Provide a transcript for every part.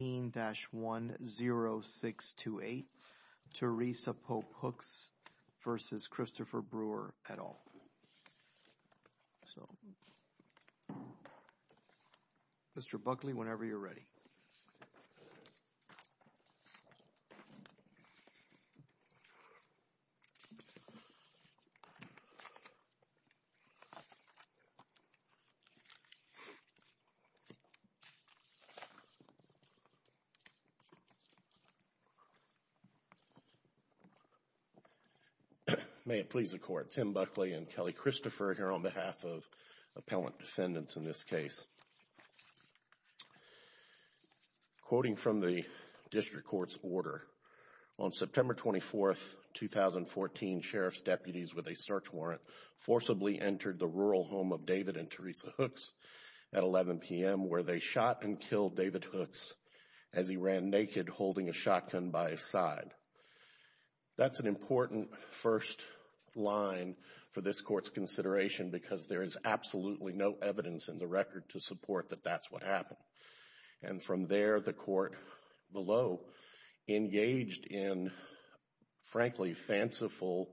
Mr. Buckley, whenever you're ready. May it please the Court, Tim Buckley and Kelly Christopher here on behalf of appellant defendants in this case. Quoting from the District Court's order, on September 24, 2014, Sheriff's deputies with a search warrant forcibly entered the rural home of David and Teresa Hooks at 11 p.m. where they shot and killed David Hooks as he ran naked holding a shotgun by his side. That's an important first line for this Court's consideration because there is absolutely no evidence in the record to support that that's what happened. And from there, the Court below engaged in, frankly, fanciful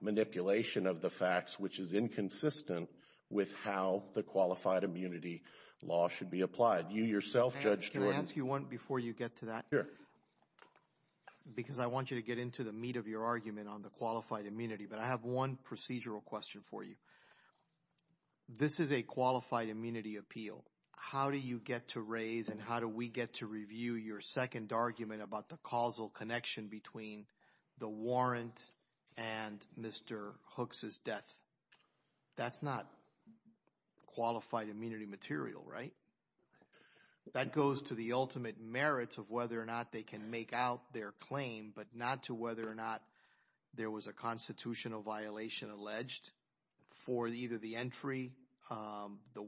manipulation of the facts which is inconsistent with how the Qualified Immunity Law should be applied. You yourself, Judge Jordan. Judge Jordan Can I ask you one before you get to that? Because I want you to get into the meat of your argument on the Qualified Immunity, but I have one procedural question for you. This is a Qualified Immunity appeal. How do you get to raise and how do we get to review your second argument about the causal connection between the warrant and Mr. Hooks' death? That's not Qualified Immunity material, right? That goes to the ultimate merit of whether or not they can make out their claim, but not to whether or not there was a constitutional violation alleged for either the entry, the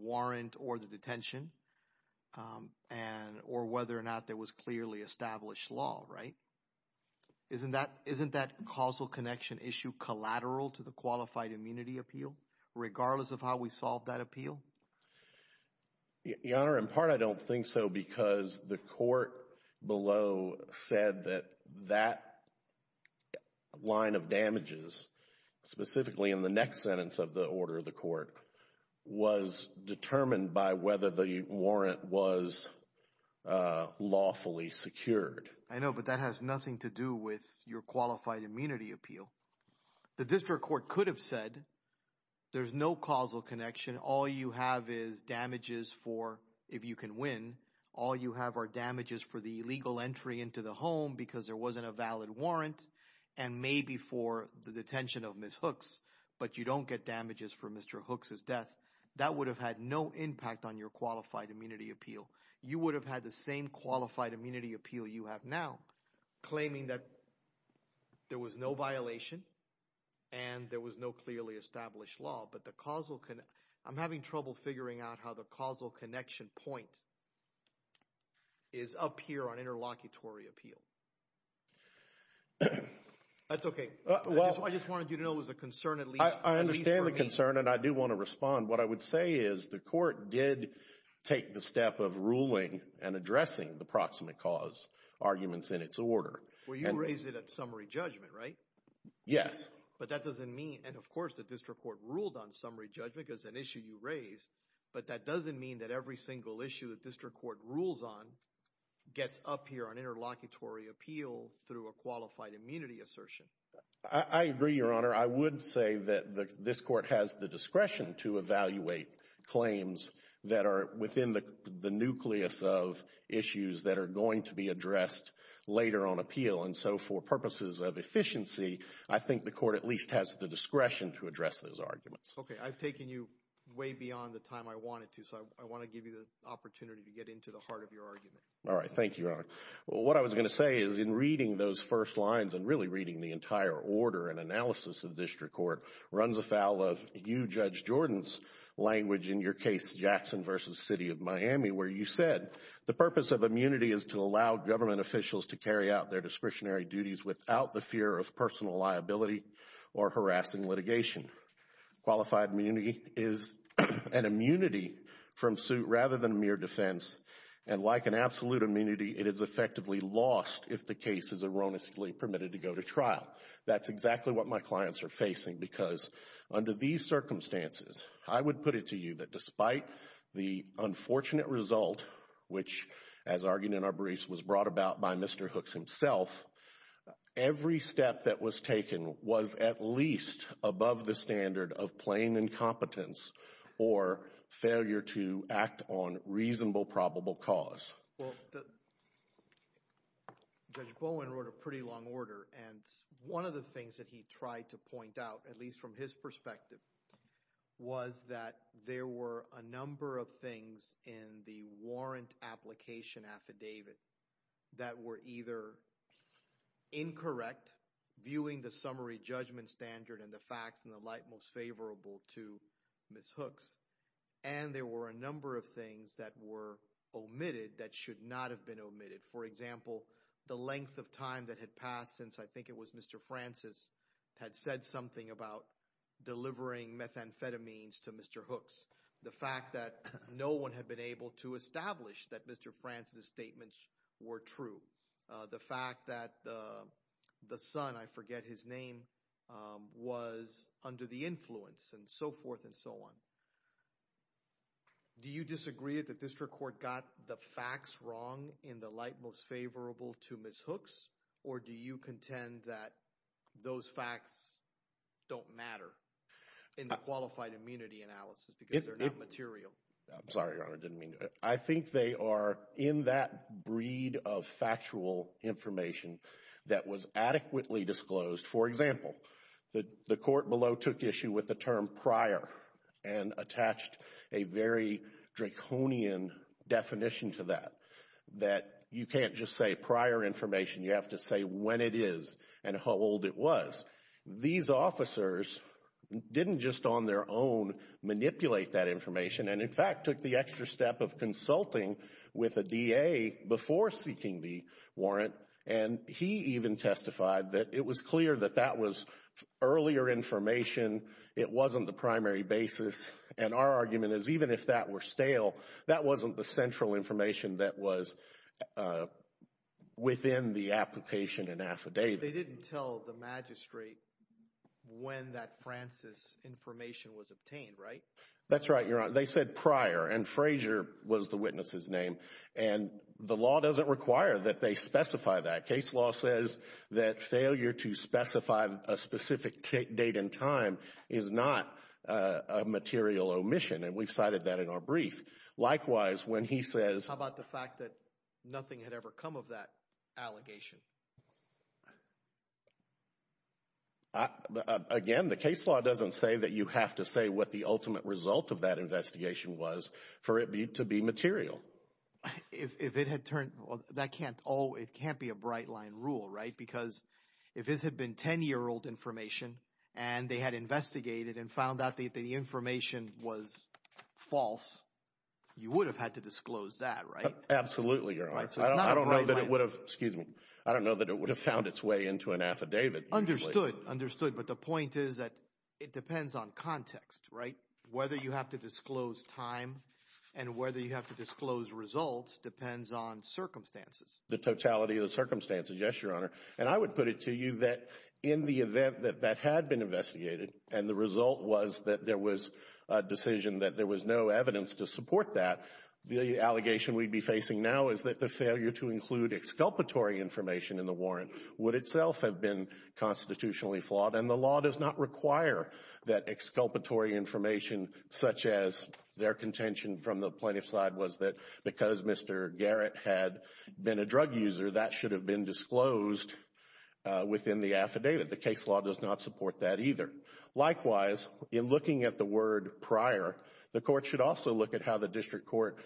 Isn't that causal connection issue collateral to the Qualified Immunity appeal, regardless of how we solve that appeal? Your Honor, in part, I don't think so because the Court below said that that line of damages, specifically in the next sentence of the order of the Court, was determined by whether the warrant was lawfully secured. I know, but that has nothing to do with your Qualified Immunity appeal. The District Court could have said, there's no causal connection. All you have is damages for, if you can win, all you have are damages for the illegal entry into the home because there wasn't a valid warrant, and maybe for the detention of Ms. Hooks, but you don't get damages for Mr. Hooks' death. That would have had no impact on your Qualified Immunity appeal. You would have had the same Qualified Immunity appeal you have now, claiming that there was no violation and there was no clearly established law, but the causal... I'm having trouble figuring out how the causal connection point is up here on interlocutory appeal. That's okay. I just wanted you to know it was a concern, at least for me. I understand the concern, and I do want to respond. What I would say is the court did take the step of ruling and addressing the proximate cause arguments in its order. Well, you raised it at summary judgment, right? Yes. But that doesn't mean... Of course, the District Court ruled on summary judgment because it's an issue you raised, but that doesn't mean that every single issue that District Court rules on gets up here on interlocutory appeal through a Qualified Immunity assertion. I agree, Your Honor. I would say that this court has the discretion to evaluate claims that are within the nucleus of issues that are going to be addressed later on appeal. For purposes of efficiency, I think the court at least has the discretion to address those arguments. Okay. I've taken you way beyond the time I wanted to, so I want to give you the opportunity to get into the heart of your argument. All right. Thank you, Your Honor. What I was going to say is in reading those first lines and really reading the entire order and analysis of District Court runs afoul of you, Judge Jordan's, language in your case, Jackson v. City of Miami, where you said, the purpose of immunity is to allow government officials to carry out their discretionary duties without the fear of personal liability or harassing litigation. Qualified immunity is an immunity from suit rather than mere defense. Like an absolute immunity, it is effectively lost if the case is erroneously permitted to go to trial. That's exactly what my clients are facing because under these circumstances, I would put it to you that despite the unfortunate result, which as argued in our briefs was brought about by Mr. Hooks himself, every step that was taken was at least above the standard of plain incompetence or failure to act on reasonable probable cause. Well, Judge Bowen wrote a pretty long order and one of the things that he tried to point out, at least from his perspective, was that there were a number of things in the warrant application affidavit that were either incorrect, viewing the summary judgment standard and the facts and the light most favorable to Ms. Hooks, and there were a number of things that were omitted that should not have been omitted. For example, the length of time that had passed since I think it was Mr. Francis had said something about delivering methamphetamines to Mr. Hooks. The fact that no one had been able to establish that Mr. Francis' statements were true. The fact that the son, I forget his name, was under the influence and so forth and so on. Do you disagree that the district court got the facts wrong in the light most favorable to Ms. Hooks or do you contend that those facts don't matter in the qualified immunity analysis because they're not material? I'm sorry, Your Honor. I didn't mean to. I think they are in that breed of factual information that was adequately disclosed. For example, the court below took issue with the term prior and attached a very draconian definition to that, that you can't just say prior information. You have to say when it is and how old it was. These officers didn't just on their own manipulate that information and in fact took the extra step of consulting with a DA before seeking the warrant and he even testified that it was clear that that was earlier information, it wasn't the primary basis and our argument is even if that were stale, that wasn't the central information that was within the application and affidavit. They didn't tell the magistrate when that Francis' information was obtained, right? That's right, Your Honor. They said prior and Frazier was the witness's name and the law doesn't require that they specify that. The case law says that failure to specify a specific date and time is not a material omission and we've cited that in our brief. Likewise, when he says... How about the fact that nothing had ever come of that allegation? Again, the case law doesn't say that you have to say what the ultimate result of that investigation was for it to be material. If it had turned, that can't always, it can't be a bright line rule, right? Because if this had been 10-year-old information and they had investigated and found out that the information was false, you would have had to disclose that, right? Absolutely, Your Honor. I don't know that it would have, excuse me, I don't know that it would have found its way into an affidavit. Understood, understood, but the point is that it depends on context, right? Whether you have to disclose time and whether you have to disclose results depends on circumstances. The totality of the circumstances, yes, Your Honor. And I would put it to you that in the event that that had been investigated and the result was that there was a decision that there was no evidence to support that, the allegation we'd be facing now is that the failure to include exculpatory information in the warrant would itself have been constitutionally flawed and the law does not require that exculpatory information such as their contention from the plaintiff's side was that because Mr. Garrett had been a drug user, that should have been disclosed within the affidavit. The case law does not support that either. Likewise, in looking at the word prior, the court should also look at how the district court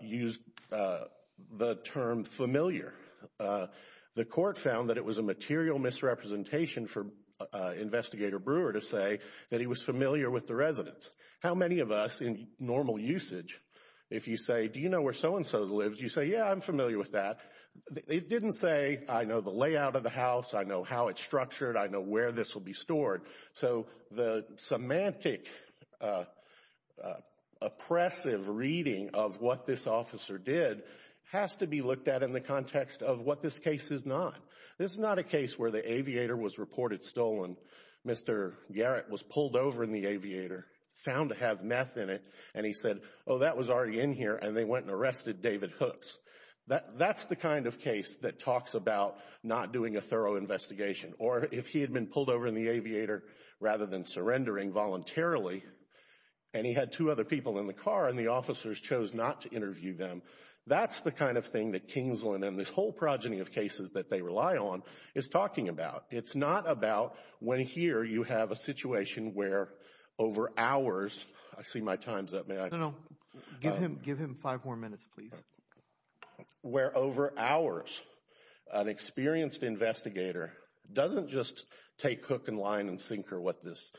used the term familiar. The court found that it was a material misrepresentation for Investigator Brewer to say that he was a resident. How many of us, in normal usage, if you say, do you know where so-and-so lives, you say, yeah, I'm familiar with that, it didn't say, I know the layout of the house, I know how it's structured, I know where this will be stored. So the semantic oppressive reading of what this officer did has to be looked at in the context of what this case is not. This is not a case where the aviator was reported stolen, Mr. Garrett was pulled over in the aviator, found to have meth in it, and he said, oh, that was already in here, and they went and arrested David Hooks. That's the kind of case that talks about not doing a thorough investigation, or if he had been pulled over in the aviator rather than surrendering voluntarily, and he had two other people in the car and the officers chose not to interview them, that's the kind of thing that Kingsland and this whole progeny of cases that they rely on is talking about. It's not about when here you have a situation where over hours, I see my time's up, may I? No, no, give him five more minutes, please. Where over hours, an experienced investigator doesn't just take hook and line and sinker what this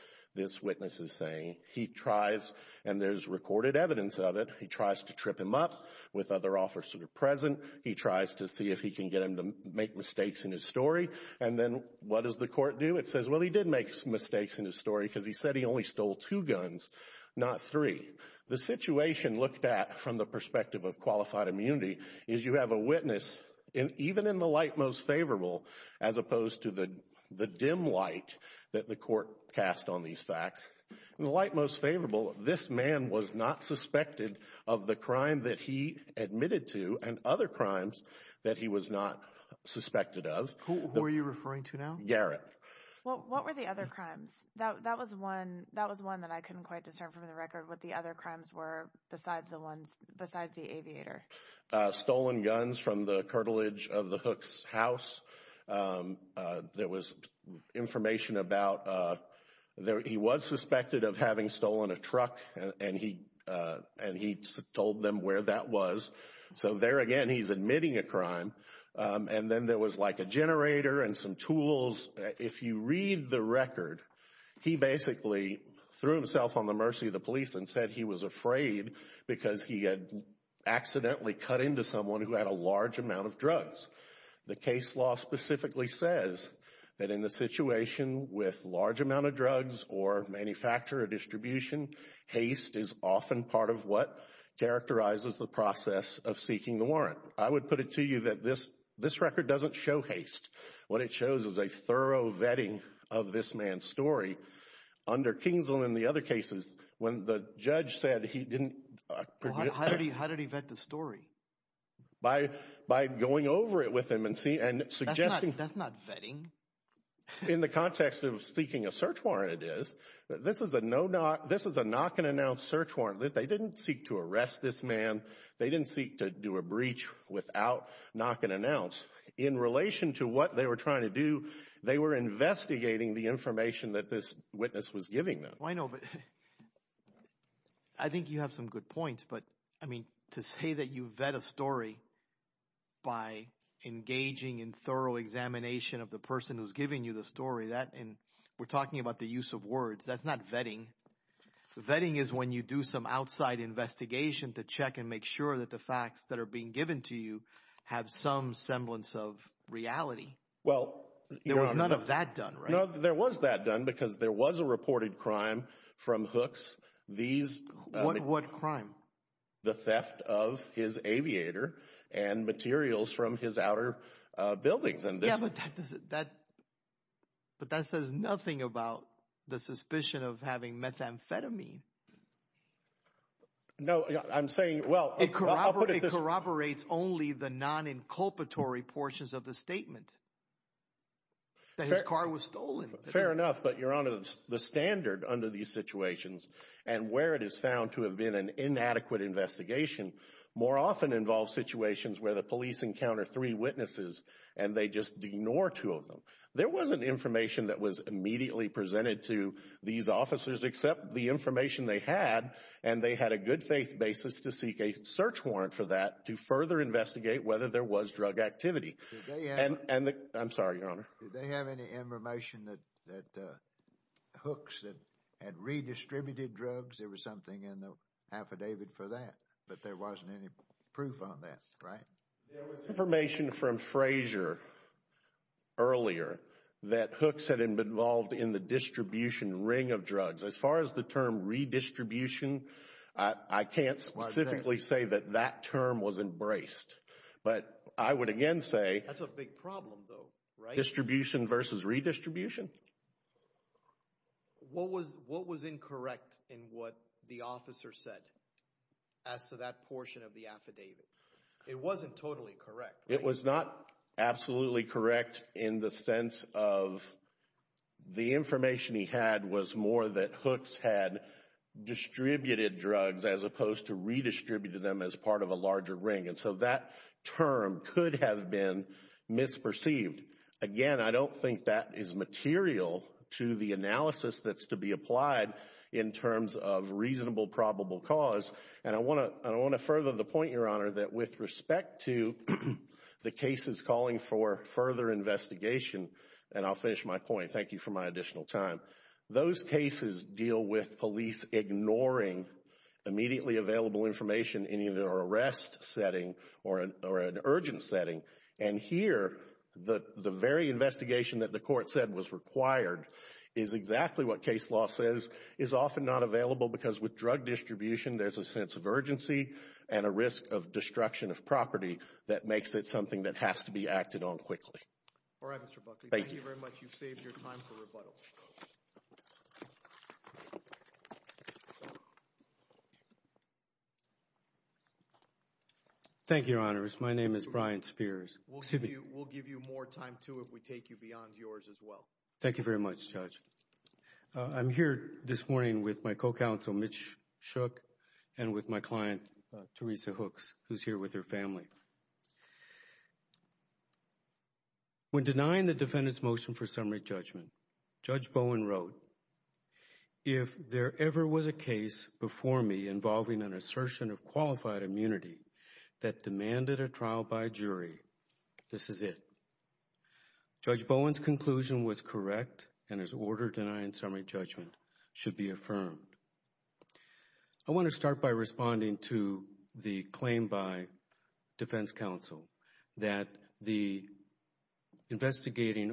witness is saying, he tries, and there's recorded evidence of it, he tries to trip him up with other officers present, he tries to see if he can get him to make mistakes in his story, and then what does the court do? It says, well, he did make mistakes in his story because he said he only stole two guns, not three. The situation looked at from the perspective of qualified immunity is you have a witness, even in the light most favorable, as opposed to the dim light that the court cast on these facts, in the light most favorable, this man was not suspected of the crime that he admitted to and other crimes that he was not suspected of. Who are you referring to now? Garrett. What were the other crimes? That was one that I couldn't quite discern from the record what the other crimes were besides the aviator. Stolen guns from the cartilage of the Hook's house. There was information about, he was suspected of having stolen a truck and he told them where that was. So there again, he's admitting a crime. And then there was like a generator and some tools. If you read the record, he basically threw himself on the mercy of the police and said he was afraid because he had accidentally cut into someone who had a large amount of drugs. The case law specifically says that in the situation with large amount of drugs or manufacture or distribution, haste is often part of what characterizes the process of seeking the warrant. I would put it to you that this record doesn't show haste. What it shows is a thorough vetting of this man's story. Under Kingsland and the other cases, when the judge said he didn't... How did he vet the story? By going over it with him and suggesting... That's not vetting. In the context of seeking a search warrant, it is. This is a knock and announce search warrant. They didn't seek to arrest this man. They didn't seek to do a breach without knock and announce. In relation to what they were trying to do, they were investigating the information that this witness was giving them. I know, but I think you have some good points. But, I mean, to say that you vet a story by engaging in thorough examination of the person who's giving you the story, that... We're talking about the use of words. That's not vetting. Vetting is when you do some outside investigation to check and make sure that the facts that are being given to you have some semblance of reality. Well... There was none of that done, right? No, there was that done because there was a reported crime from Hooks. These... What crime? The theft of his aviator and materials from his outer buildings. Yeah, but that doesn't... But that says nothing about the suspicion of having methamphetamine. No, I'm saying, well, I'll put it this way... It corroborates only the non-inculpatory portions of the statement that his car was stolen. Fair enough, but you're under the standard under these situations. And where it is found to have been an inadequate investigation more often involves situations where the police encounter three witnesses and they just ignore two of them. There wasn't information that was immediately presented to these officers except the information they had, and they had a good faith basis to seek a search warrant for that to further investigate whether there was drug activity. Did they have... And the... I'm sorry, Your Honor. Did they have any information that Hooks had redistributed drugs? There was something in the affidavit for that, but there wasn't any proof on that, right? There was information from Frazier earlier that Hooks had been involved in the distribution ring of drugs. As far as the term redistribution, I can't specifically say that that term was embraced, but I would again say... That's a big problem though, right? Distribution versus redistribution? What was incorrect in what the officer said as to that portion of the affidavit? It wasn't totally correct, right? It was not absolutely correct in the sense of the information he had was more that Hooks had distributed drugs as opposed to redistributed them as part of a larger ring. And so that term could have been misperceived. Again, I don't think that is material to the analysis that's to be applied in terms of reasonable probable cause. And I want to further the point, Your Honor, that with respect to the cases calling for further investigation, and I'll finish my point. Thank you for my additional time. Those cases deal with police ignoring immediately available information in either arrest setting or an urgent setting. And here, the very investigation that the court said was required is exactly what case law says is often not available because with drug distribution, there's a sense of urgency and a risk of destruction of property that makes it something that has to be acted on quickly. All right, Mr. Buckley. Thank you very much. You've saved your time for rebuttal. Thank you, Your Honors. My name is Brian Spears. We'll give you more time, too, if we take you beyond yours as well. Thank you very much, Judge. I'm here this morning with my co-counsel, Mitch Shook, and with my client, Teresa Hooks, who's here with her family. When denying the defendant's motion for summary judgment, Judge Bowen wrote, if there ever was a case before me involving an assertion of qualified immunity that demanded a trial by jury, this is it. Judge Bowen's conclusion was correct, and his order denying summary judgment should be affirmed. I want to start by responding to the claim by defense counsel that the investigating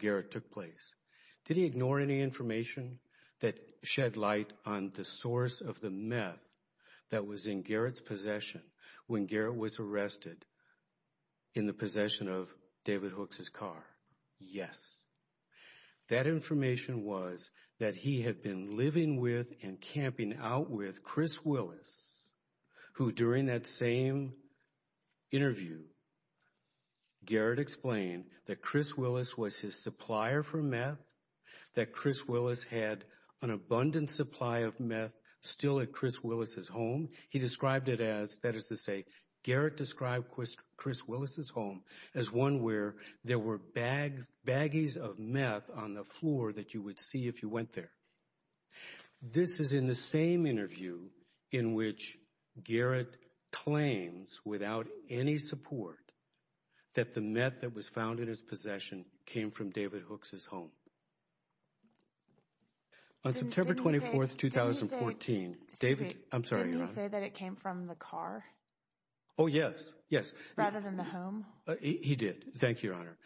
Garrett took place. Did he ignore any information that shed light on the source of the meth that was in Garrett's possession when Garrett was arrested in the possession of David Hooks' car? Yes. That information was that he had been living with and camping out with Chris Willis, who During that same interview, Garrett explained that Chris Willis was his supplier for meth, that Chris Willis had an abundant supply of meth still at Chris Willis' home. He described it as, that is to say, Garrett described Chris Willis' home as one where there were baggies of meth on the floor that you would see if you went there. This is in the same interview in which Garrett claims, without any support, that the meth that was found in his possession came from David Hooks' home. On September 24th, 2014, David, I'm sorry, Your Honor. Didn't he say that it came from the car? Oh, yes, yes. Rather than the home? He did. Thank you, Your Honor.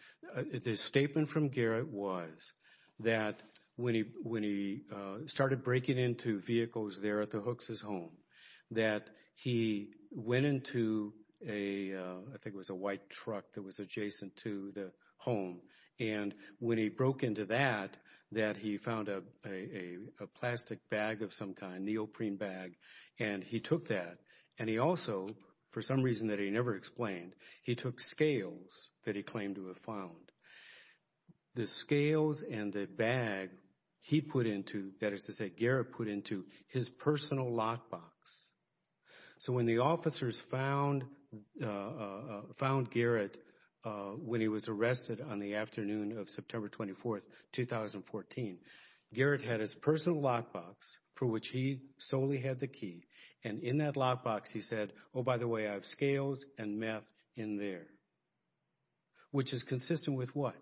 The statement from Garrett was that when he started breaking into vehicles there at the Hooks' home, that he went into a, I think it was a white truck that was adjacent to the home, and when he broke into that, that he found a plastic bag of some kind, a neoprene bag, and he took that, and he also, for some reason that he never explained, he took scales that he claimed to have found. The scales and the bag he put into, that is to say, Garrett put into his personal lock box. So when the officers found Garrett when he was arrested on the afternoon of September 24th, 2014, Garrett had his personal lock box for which he solely had the key, and in that Which is consistent with what?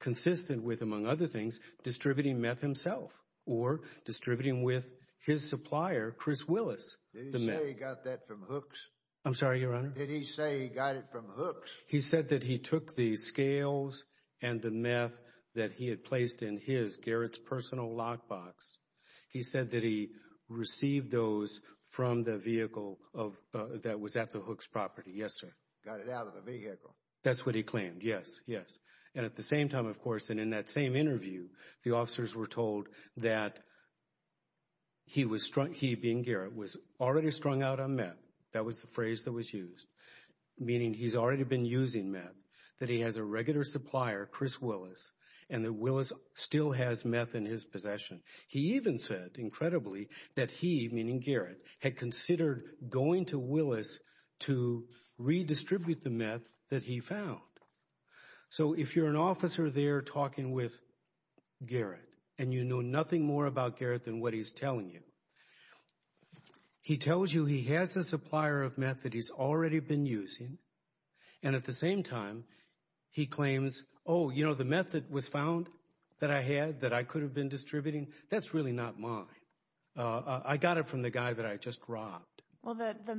Consistent with, among other things, distributing meth himself, or distributing with his supplier, Chris Willis, the meth. Did he say he got that from Hooks? I'm sorry, Your Honor? Did he say he got it from Hooks? He said that he took the scales and the meth that he had placed in his, Garrett's, personal lock box. He said that he received those from the vehicle that was at the Hooks' property, yes, sir. Got it out of the vehicle. That's what he claimed, yes, yes. And at the same time, of course, and in that same interview, the officers were told that he was, he being Garrett, was already strung out on meth. That was the phrase that was used, meaning he's already been using meth, that he has a regular supplier, Chris Willis, and that Willis still has meth in his possession. He even said, incredibly, that he, meaning Garrett, had considered going to Willis to redistribute the meth that he found. So if you're an officer there talking with Garrett, and you know nothing more about Garrett than what he's telling you, he tells you he has a supplier of meth that he's already been using, and at the same time, he claims, oh, you know, the meth that was found that I had, that I could have been distributing, that's really not mine. I got it from the guy that I just robbed. Well, the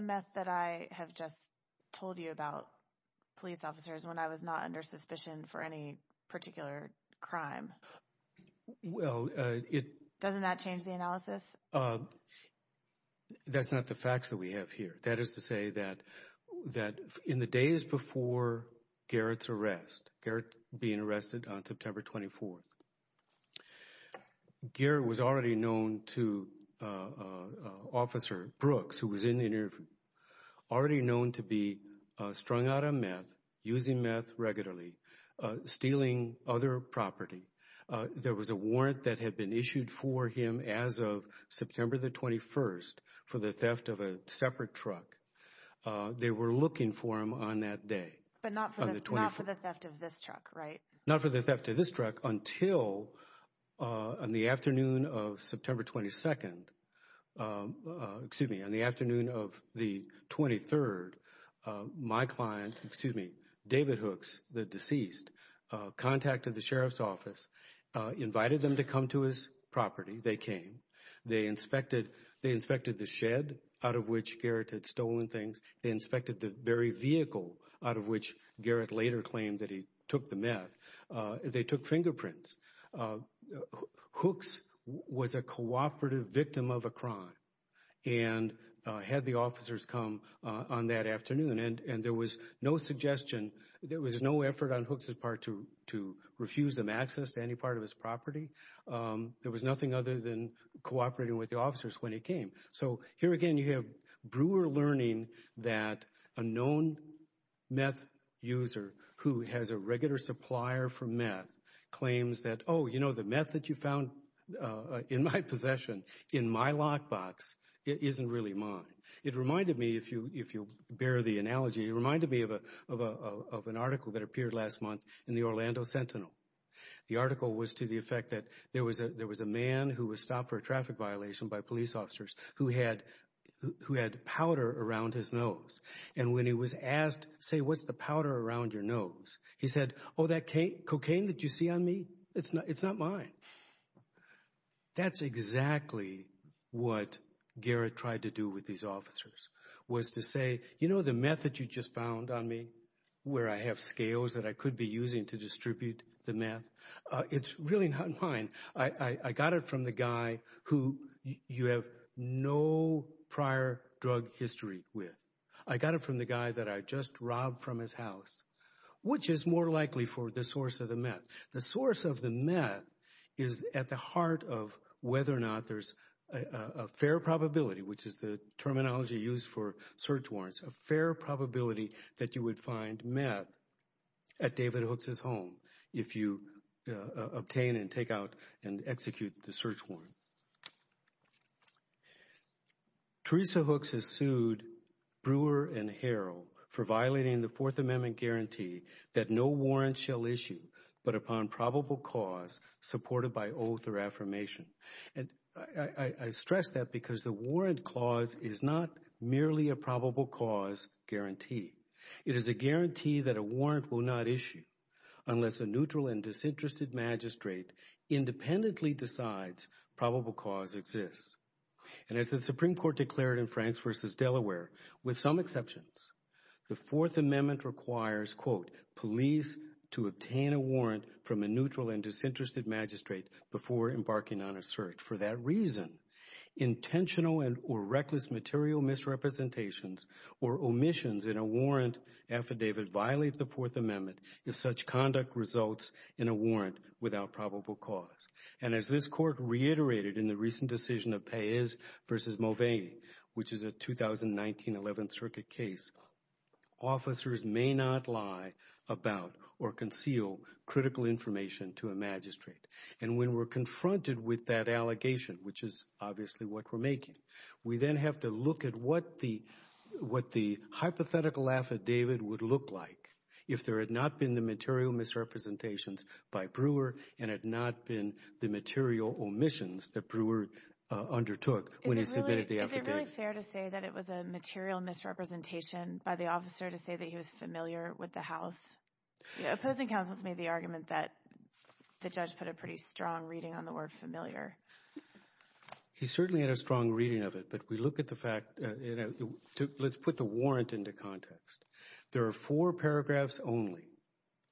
meth that I have just told you about, police officers, when I was not under suspicion for any particular crime. Well, it... Doesn't that change the analysis? That's not the facts that we have here. That is to say that in the days before Garrett's arrest, Garrett being arrested on September 24th, Garrett was already known to Officer Brooks, who was in the interview, already known to be strung out on meth, using meth regularly, stealing other property. There was a warrant that had been issued for him as of September the 21st for the theft of a separate truck. They were looking for him on that day. But not for the theft of this truck, right? Not for the theft of this truck until on the afternoon of September 22nd, excuse me, on the afternoon of the 23rd, my client, excuse me, David Hooks, the deceased, contacted the sheriff's office, invited them to come to his property. They came. They inspected, they inspected the shed out of which Garrett had stolen things. They inspected the very vehicle out of which Garrett later claimed that he took the meth. They took fingerprints. Hooks was a cooperative victim of a crime and had the officers come on that afternoon. And there was no suggestion, there was no effort on Hooks' part to refuse them access to any part of his property. There was nothing other than cooperating with the officers when he came. So here again you have brewer learning that a known meth user who has a regular supplier for meth claims that, oh, you know, the meth that you found in my possession in my lockbox isn't really mine. It reminded me, if you bear the analogy, it reminded me of an article that appeared last month in the Orlando Sentinel. The article was to the effect that there was a man who was stopped for a traffic violation by police officers who had powder around his nose. And when he was asked, say, what's the powder around your nose? He said, oh, that cocaine that you see on me, it's not mine. That's exactly what Garrett tried to do with these officers was to say, you know, the meth that you just found on me where I have scales that I could be using to distribute the meth, it's really not mine. I got it from the guy who you have no prior drug history with. I got it from the guy that I just robbed from his house, which is more likely for the source of the meth. The source of the meth is at the heart of whether or not there's a fair probability, which is the terminology used for search warrants, a fair probability that you would find meth at David Hooks' home if you obtain and take out and execute the search warrant. Teresa Hooks has sued Brewer and Harrell for violating the Fourth Amendment guarantee that no warrant shall issue but upon probable cause supported by oath or affirmation. And I stress that because the warrant clause is not merely a probable cause guarantee. It is a guarantee that a warrant will not issue unless a neutral and disinterested magistrate independently decides probable cause exists. And as the Supreme Court declared in Franks v. Delaware, with some exceptions, the Fourth Amendment requires, quote, police to obtain a warrant from a neutral and disinterested magistrate before embarking on a search. For that reason, intentional or reckless material misrepresentations or omissions in a warrant affidavit violate the Fourth Amendment if such conduct results in a warrant without probable cause. And as this Court reiterated in the recent decision of Paiz v. Mulvaney, which is a 2019-11 circuit case, officers may not lie about or conceal critical information to a magistrate. And when we're confronted with that allegation, which is obviously what we're making, we then have to look at what the hypothetical affidavit would look like if there had not been the material misrepresentations by Brewer and had not been the material omissions that Brewer undertook when he submitted the affidavit. Is it really fair to say that it was a material misrepresentation by the officer to say that he was familiar with the House? Opposing counsel has made the argument that the judge put a pretty strong reading on the word familiar. He certainly had a strong reading of it, but we look at the fact, let's put the warrant into context. There are four paragraphs only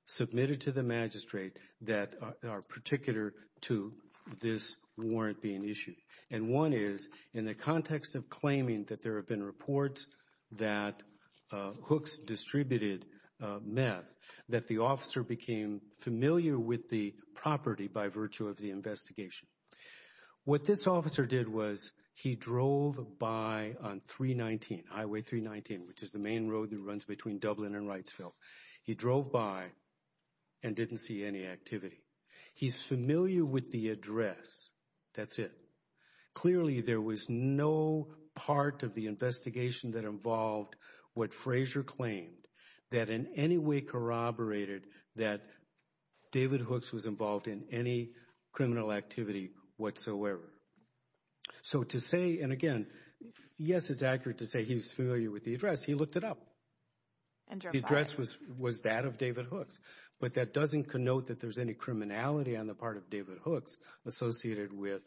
submitted to the magistrate that are particular to this warrant being issued. And one is in the context of claiming that there have been reports that Hooks distributed meth, that the officer became familiar with the property by virtue of the investigation. What this officer did was he drove by on 319, Highway 319, which is the main road that runs between Dublin and Wrightsville. He drove by and didn't see any activity. He's familiar with the address. That's it. Clearly, there was no part of the investigation that involved what Fraser claimed that in any way corroborated that David Hooks was involved in any criminal activity whatsoever. So to say, and again, yes, it's accurate to say he's familiar with the address. He looked it up. The address was that of David Hooks. But that doesn't connote that there's any criminality on the part of David Hooks associated with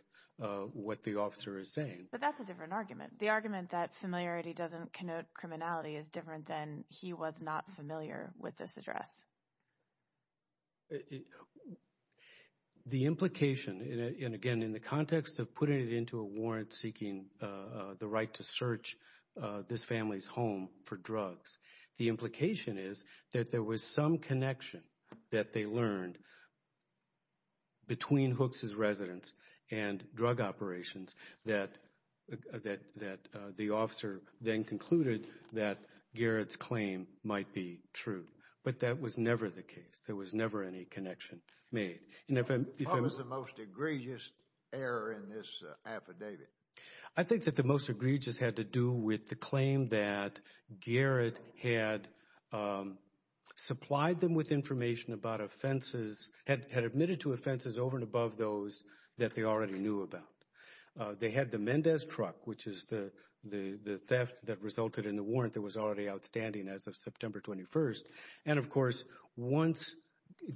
what the officer is saying. But that's a different argument. The argument that familiarity doesn't connote criminality is different than he was not familiar with this address. The implication, and again, in the context of putting it into a warrant seeking the right to search this family's home for drugs, the implication is that there was some connection that they learned between Hooks' residence and drug operations that the officer then concluded that Garrett's claim might be true. But that was never the case. There was never any connection made. And if I'm— What was the most egregious error in this affidavit? I think that the most egregious had to do with the claim that Garrett had supplied them with information about offenses—had admitted to offenses over and above those that they already knew about. They had the Mendez truck, which is the theft that resulted in the warrant that was already outstanding as of September 21st. And of course, once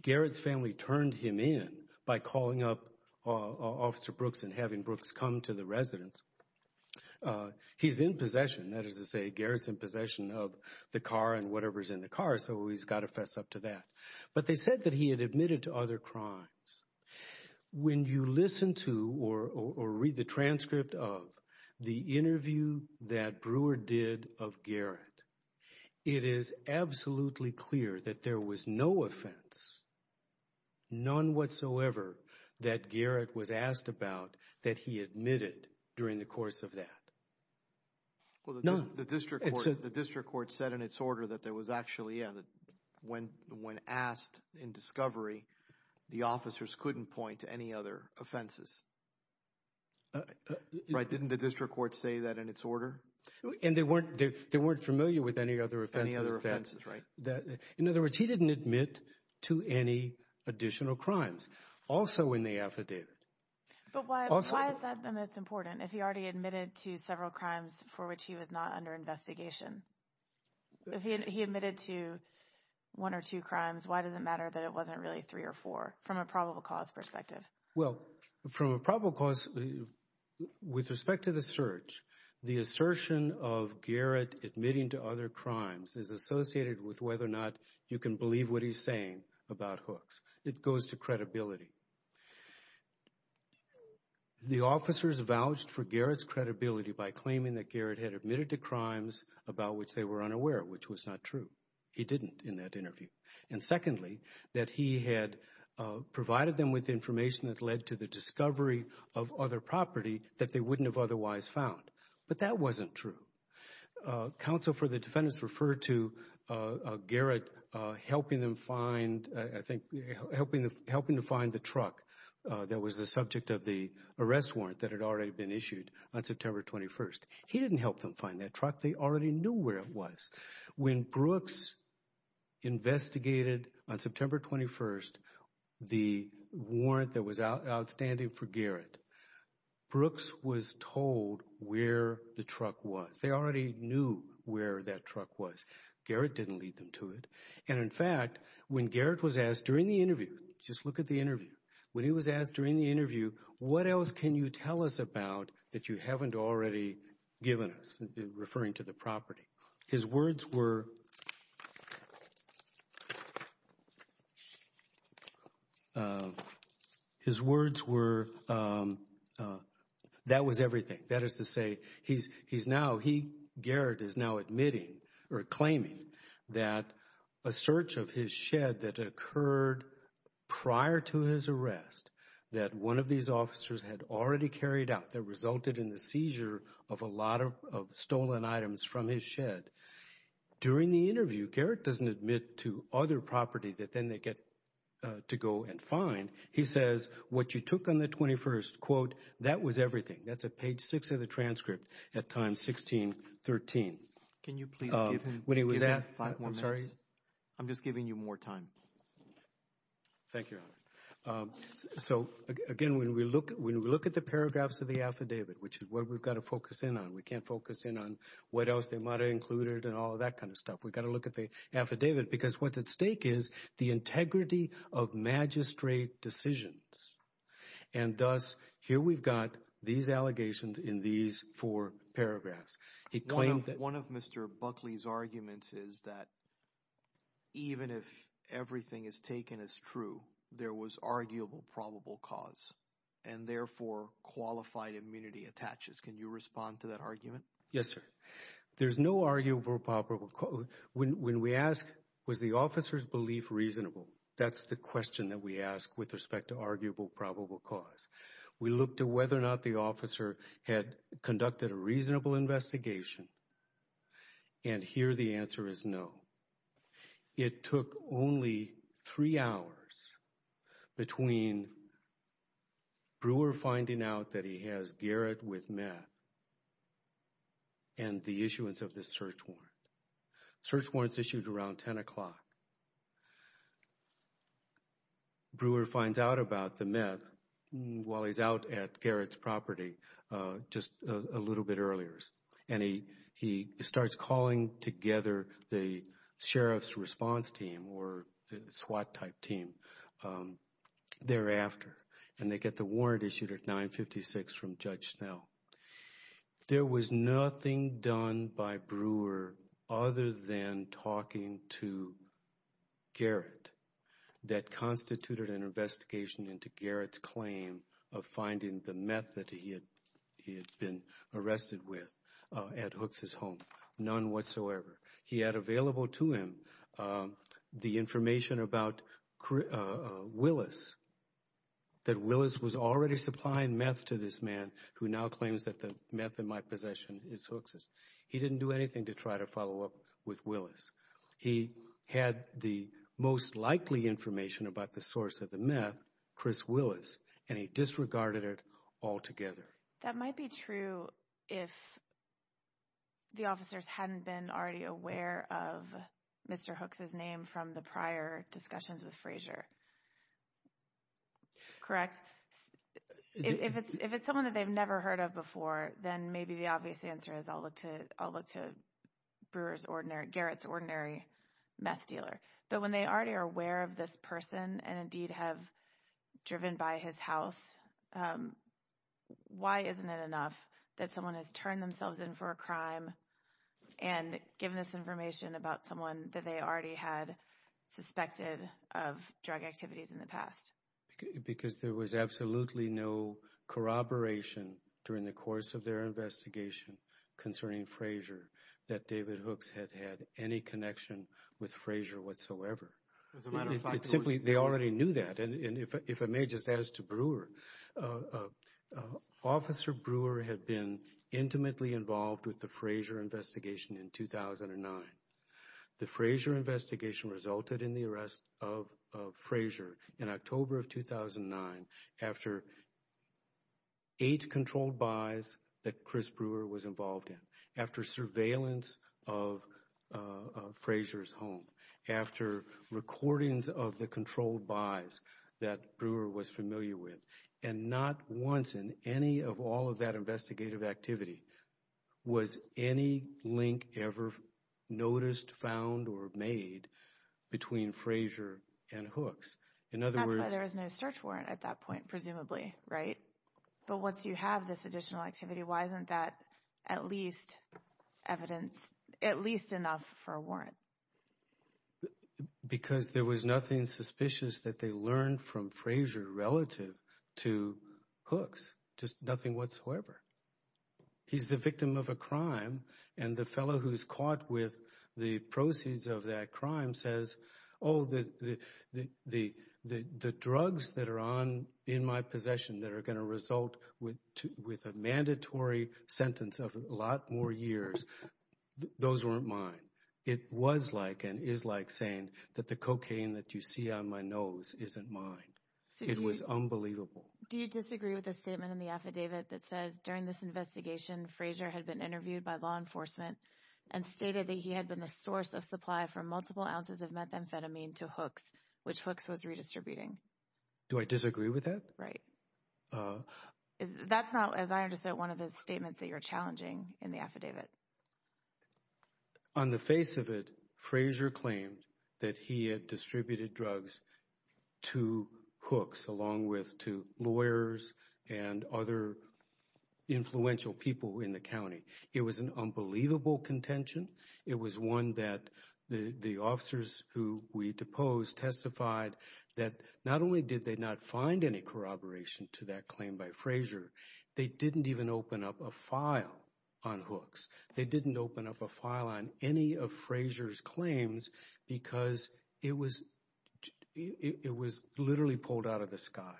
Garrett's family turned him in by calling up Officer Brooks and having Brooks come to the residence, he's in possession. That is to say, Garrett's in possession of the car and whatever's in the car. So he's got to fess up to that. But they said that he had admitted to other crimes. When you listen to or read the transcript of the interview that Brewer did of Garrett, it is absolutely clear that there was no offense, none whatsoever, that Garrett was asked about that he admitted during the course of that. Well, the district court said in its order that there was actually, yeah, that when asked in discovery, the officers couldn't point to any other offenses. Right. Didn't the district court say that in its order? And they weren't familiar with any other offenses. Any other offenses, right. In other words, he didn't admit to any additional crimes, also in the affidavit. But why is that the most important, if he already admitted to several crimes for which he was not under investigation? If he admitted to one or two crimes, why does it matter that it wasn't really three or four from a probable cause perspective? Well, from a probable cause, with respect to the search, the assertion of Garrett admitting to other crimes is associated with whether or not you can believe what he's saying about Hooks. It goes to credibility. The officers vouched for Garrett's credibility by claiming that Garrett had admitted to crimes about which they were unaware, which was not true. He didn't in that interview. And secondly, that he had provided them with information that led to the discovery of other property that they wouldn't have otherwise found. But that wasn't true. Counsel for the defendants referred to Garrett helping them find, I think, helping to find the truck that was the subject of the arrest warrant that had already been issued on September 21st. He didn't help them find that truck. They already knew where it was. When Brooks investigated on September 21st the warrant that was outstanding for Garrett, Brooks was told where the truck was. They already knew where that truck was. Garrett didn't lead them to it. And in fact, when Garrett was asked during the interview, just look at the interview, when he was asked during the interview, what else can you tell us about that you haven't already given us? Referring to the property. His words were, his words were, that was everything. That is to say, Garrett is now admitting or claiming that a search of his shed that occurred prior to his arrest that one of these officers had already carried out that resulted in the seizure of a lot of stolen items from his shed. During the interview, Garrett doesn't admit to other property that then they get to go and find. He says, what you took on the 21st, quote, that was everything. That's at page six of the transcript at times 16, 13. Can you please give him five more minutes? I'm just giving you more time. Thank you. So again, when we look at the paragraphs of the affidavit, which is what we've got to focus in on, we can't focus in on what else they might have included and all of that kind of stuff. We've got to look at the affidavit because what's at stake is the integrity of magistrate decisions. And thus, here we've got these allegations in these four paragraphs. He claims that one of Mr. Buckley's arguments is that even if everything is taken as true, there was arguable probable cause and therefore qualified immunity attaches. Can you respond to that argument? Yes, sir. There's no arguable probable. When we ask, was the officer's belief reasonable? That's the question that we ask with respect to arguable probable cause. We look to whether or not the officer had conducted a reasonable investigation. And here the answer is no. It took only three hours between Brewer finding out that he has Garrett with meth and the issuance of this search warrant. Search warrants issued around 10 o'clock. And Brewer finds out about the meth while he's out at Garrett's property just a little bit earlier. And he starts calling together the sheriff's response team or SWAT type team thereafter. And they get the warrant issued at 956 from Judge Snell. There was nothing done by Brewer other than talking to Garrett. That constituted an investigation into Garrett's claim of finding the meth that he had been arrested with at Hook's home. None whatsoever. He had available to him the information about Willis. That Willis was already supplying meth to this man who now claims that the meth in my possession is Hook's. He didn't do anything to try to follow up with Willis. He had the most likely information about the source of the meth, Chris Willis. And he disregarded it altogether. That might be true if the officers hadn't been already aware of Mr. Hook's name from the prior discussions with Frazier. Correct? If it's someone that they've never heard of before, then maybe the obvious answer is I'll meth dealer. But when they already are aware of this person and indeed have driven by his house, why isn't it enough that someone has turned themselves in for a crime and given this information about someone that they already had suspected of drug activities in the past? Because there was absolutely no corroboration during the course of their investigation concerning Frazier that David Hooks had had any connection with Frazier whatsoever. As a matter of fact, they already knew that. And if I may just ask to Brewer, Officer Brewer had been intimately involved with the Frazier investigation in 2009. The Frazier investigation resulted in the arrest of Frazier in October of 2009 after eight controlled buys that Chris Brewer was involved in. After surveillance of Frazier's home. After recordings of the controlled buys that Brewer was familiar with. And not once in any of all of that investigative activity was any link ever noticed, found, or made between Frazier and Hooks. That's why there was no search warrant at that point, presumably, right? But once you have this additional activity, why isn't that at least enough for a warrant? Because there was nothing suspicious that they learned from Frazier relative to Hooks. Just nothing whatsoever. He's the victim of a crime and the fellow who's caught with the proceeds of that crime says, oh, the drugs that are on in my possession that are going to result with a mandatory sentence of a lot more years, those weren't mine. It was like and is like saying that the cocaine that you see on my nose isn't mine. It was unbelievable. Do you disagree with the statement in the affidavit that says during this investigation, Frazier had been interviewed by law enforcement and stated that he had been the source of multiple ounces of methamphetamine to Hooks, which Hooks was redistributing. Do I disagree with that? Right. That's not, as I understand, one of the statements that you're challenging in the affidavit. On the face of it, Frazier claimed that he had distributed drugs to Hooks along with to lawyers and other influential people in the county. It was an unbelievable contention. It was one that the officers who we deposed testified that not only did they not find any corroboration to that claim by Frazier, they didn't even open up a file on Hooks. They didn't open up a file on any of Frazier's claims because it was literally pulled out of the sky.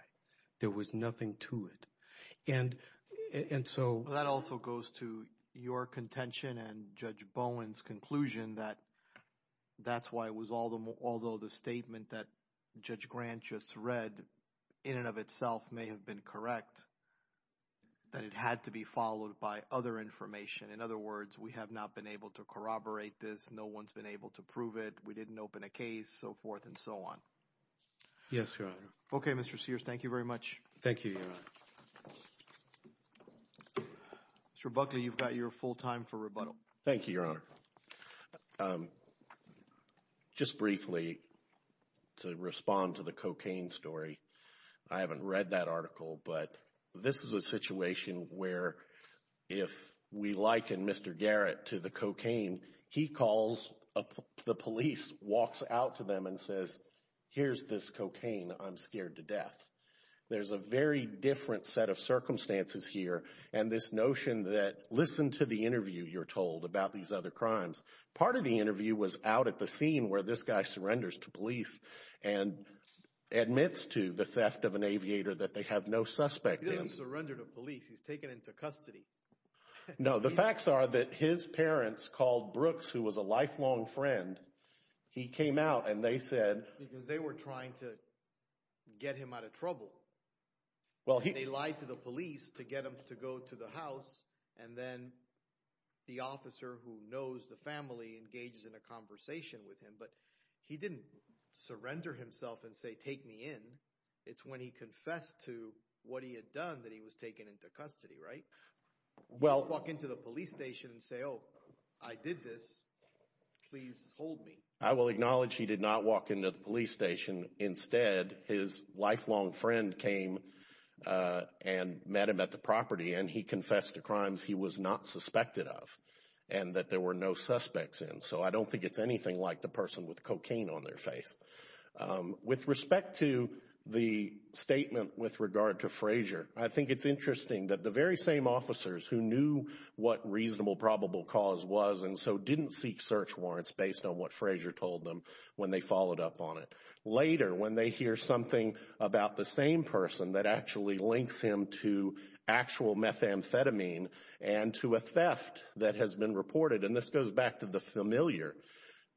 There was nothing to it. And so... That also goes to your contention and Judge Bowen's conclusion that that's why it was although the statement that Judge Grant just read in and of itself may have been correct, that it had to be followed by other information. In other words, we have not been able to corroborate this. No one's been able to prove it. We didn't open a case, so forth and so on. Yes, Your Honor. Thank you, Your Honor. Mr. Buckley, you've got your full time for rebuttal. Thank you, Your Honor. Just briefly to respond to the cocaine story. I haven't read that article, but this is a situation where if we liken Mr. Garrett to the cocaine, he calls, the police walks out to them and says, here's this cocaine. I'm scared to death. There's a very different set of circumstances here. And this notion that, listen to the interview you're told about these other crimes. Part of the interview was out at the scene where this guy surrenders to police and admits to the theft of an aviator that they have no suspect. He didn't surrender to police. He's taken into custody. No, the facts are that his parents called Brooks, who was a lifelong friend. He came out and they said... Well, he... They lied to the police to get him to go to the house. And then the officer who knows the family engages in a conversation with him. But he didn't surrender himself and say, take me in. It's when he confessed to what he had done that he was taken into custody, right? Well... Walk into the police station and say, oh, I did this. Please hold me. I will acknowledge he did not walk into the police station. Instead, his lifelong friend came and met him at the property. And he confessed to crimes he was not suspected of and that there were no suspects in. So I don't think it's anything like the person with cocaine on their face. With respect to the statement with regard to Frazier, I think it's interesting that the very same officers who knew what reasonable probable cause was and so didn't seek search warrants based on what Frazier told them when they followed up on it. Later, when they hear something about the same person that actually links him to actual methamphetamine and to a theft that has been reported, and this goes back to the familiar.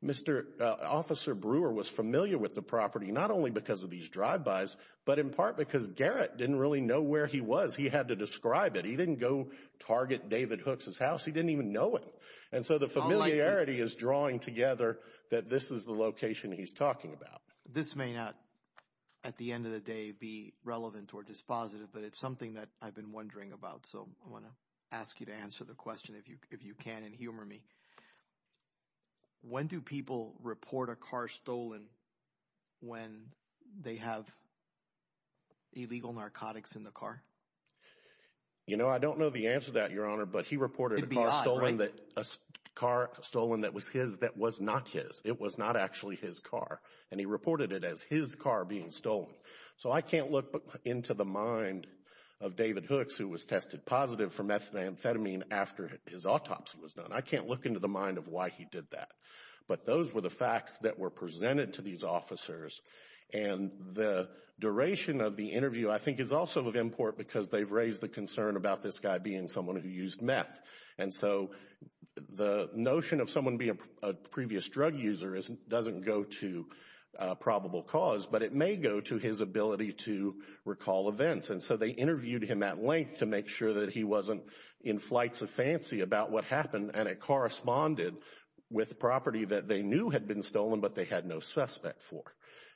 Mr. Officer Brewer was familiar with the property, not only because of these drive-bys, but in part because Garrett didn't really know where he was. He had to describe it. He didn't go target David Hook's house. He didn't even know it. And so the familiarity is drawing together that this is the location he's talking about. This may not at the end of the day be relevant or dispositive, but it's something that I've been wondering about. So I want to ask you to answer the question if you if you can and humor me. When do people report a car stolen when they have illegal narcotics in the car? You know, I don't know the answer to that, Your Honor, but he reported a car stolen that a car stolen that was his that was not his. It was not actually his car. And he reported it as his car being stolen. So I can't look into the mind of David Hooks, who was tested positive for methamphetamine after his autopsy was done. I can't look into the mind of why he did that. But those were the facts that were presented to these officers. And the duration of the interview, I think, is also of import because they've raised the concern about this guy being someone who used meth. And so the notion of someone being a previous drug user doesn't go to probable cause, but it may go to his ability to recall events. And so they interviewed him at length to make sure that he wasn't in flights of fancy about what happened. And it corresponded with property that they knew had been stolen, but they had no suspect for.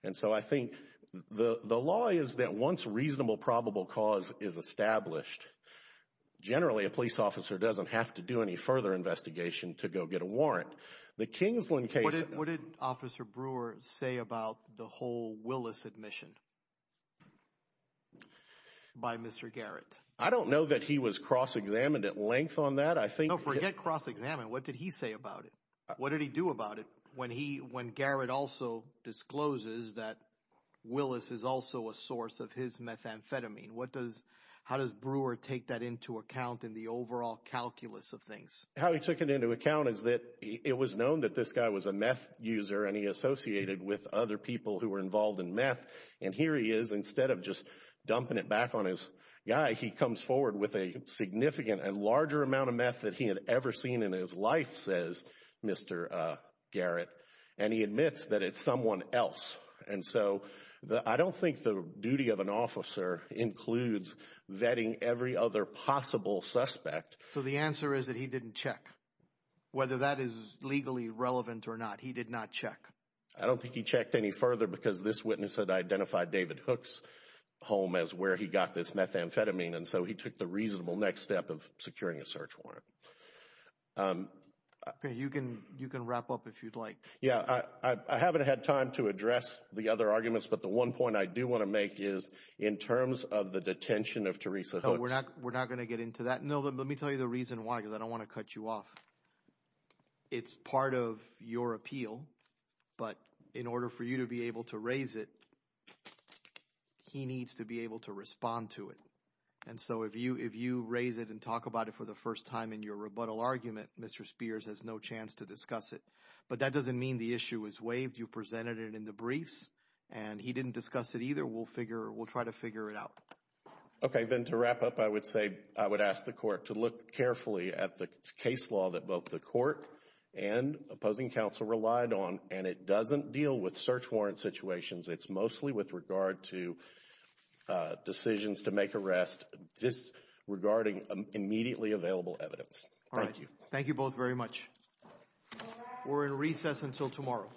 And so I think the law is that once reasonable probable cause is established, generally, a police officer doesn't have to do any further investigation to go get a warrant. The Kingsland case. What did Officer Brewer say about the whole Willis admission? By Mr. Garrett. I don't know that he was cross-examined at length on that. I think. Forget cross-examined. What did he say about it? What did he do about it when he when Garrett also discloses that Willis is also a source of his methamphetamine? What does how does Brewer take that into account in the overall calculus of things? How he took it into account is that it was known that this guy was a meth user and he associated with other people who were involved in meth. And here he is. Instead of just dumping it back on his guy, he comes forward with a significant and larger amount of meth that he had ever seen in his life, says Mr. Garrett. And he admits that it's someone else. And so I don't think the duty of an officer includes vetting every other possible suspect. So the answer is that he didn't check whether that is legally relevant or not. He did not check. I don't think he checked any further because this witness had identified David Hook's home as where he got this methamphetamine. And so he took the reasonable next step of securing a search warrant. You can you can wrap up if you'd like. Yeah, I haven't had time to address the other arguments. But the one point I do want to make is in terms of the detention of Teresa Hooks. We're not going to get into that. No, but let me tell you the reason why, because I don't want to cut you off. It's part of your appeal. But in order for you to be able to raise it, he needs to be able to respond to it. And so if you if you raise it and talk about it for the first time in your rebuttal argument, Mr. Spears has no chance to discuss it. But that doesn't mean the issue is waived. You presented it in the briefs and he didn't discuss it either. We'll figure we'll try to figure it out. Okay, then to wrap up, I would say I would ask the court to look carefully at the case law that both the court and opposing counsel relied on. And it doesn't deal with search warrant situations. It's mostly with regard to decisions to make arrest disregarding immediately available evidence. All right. Thank you both very much. All right. We're in recess until tomorrow.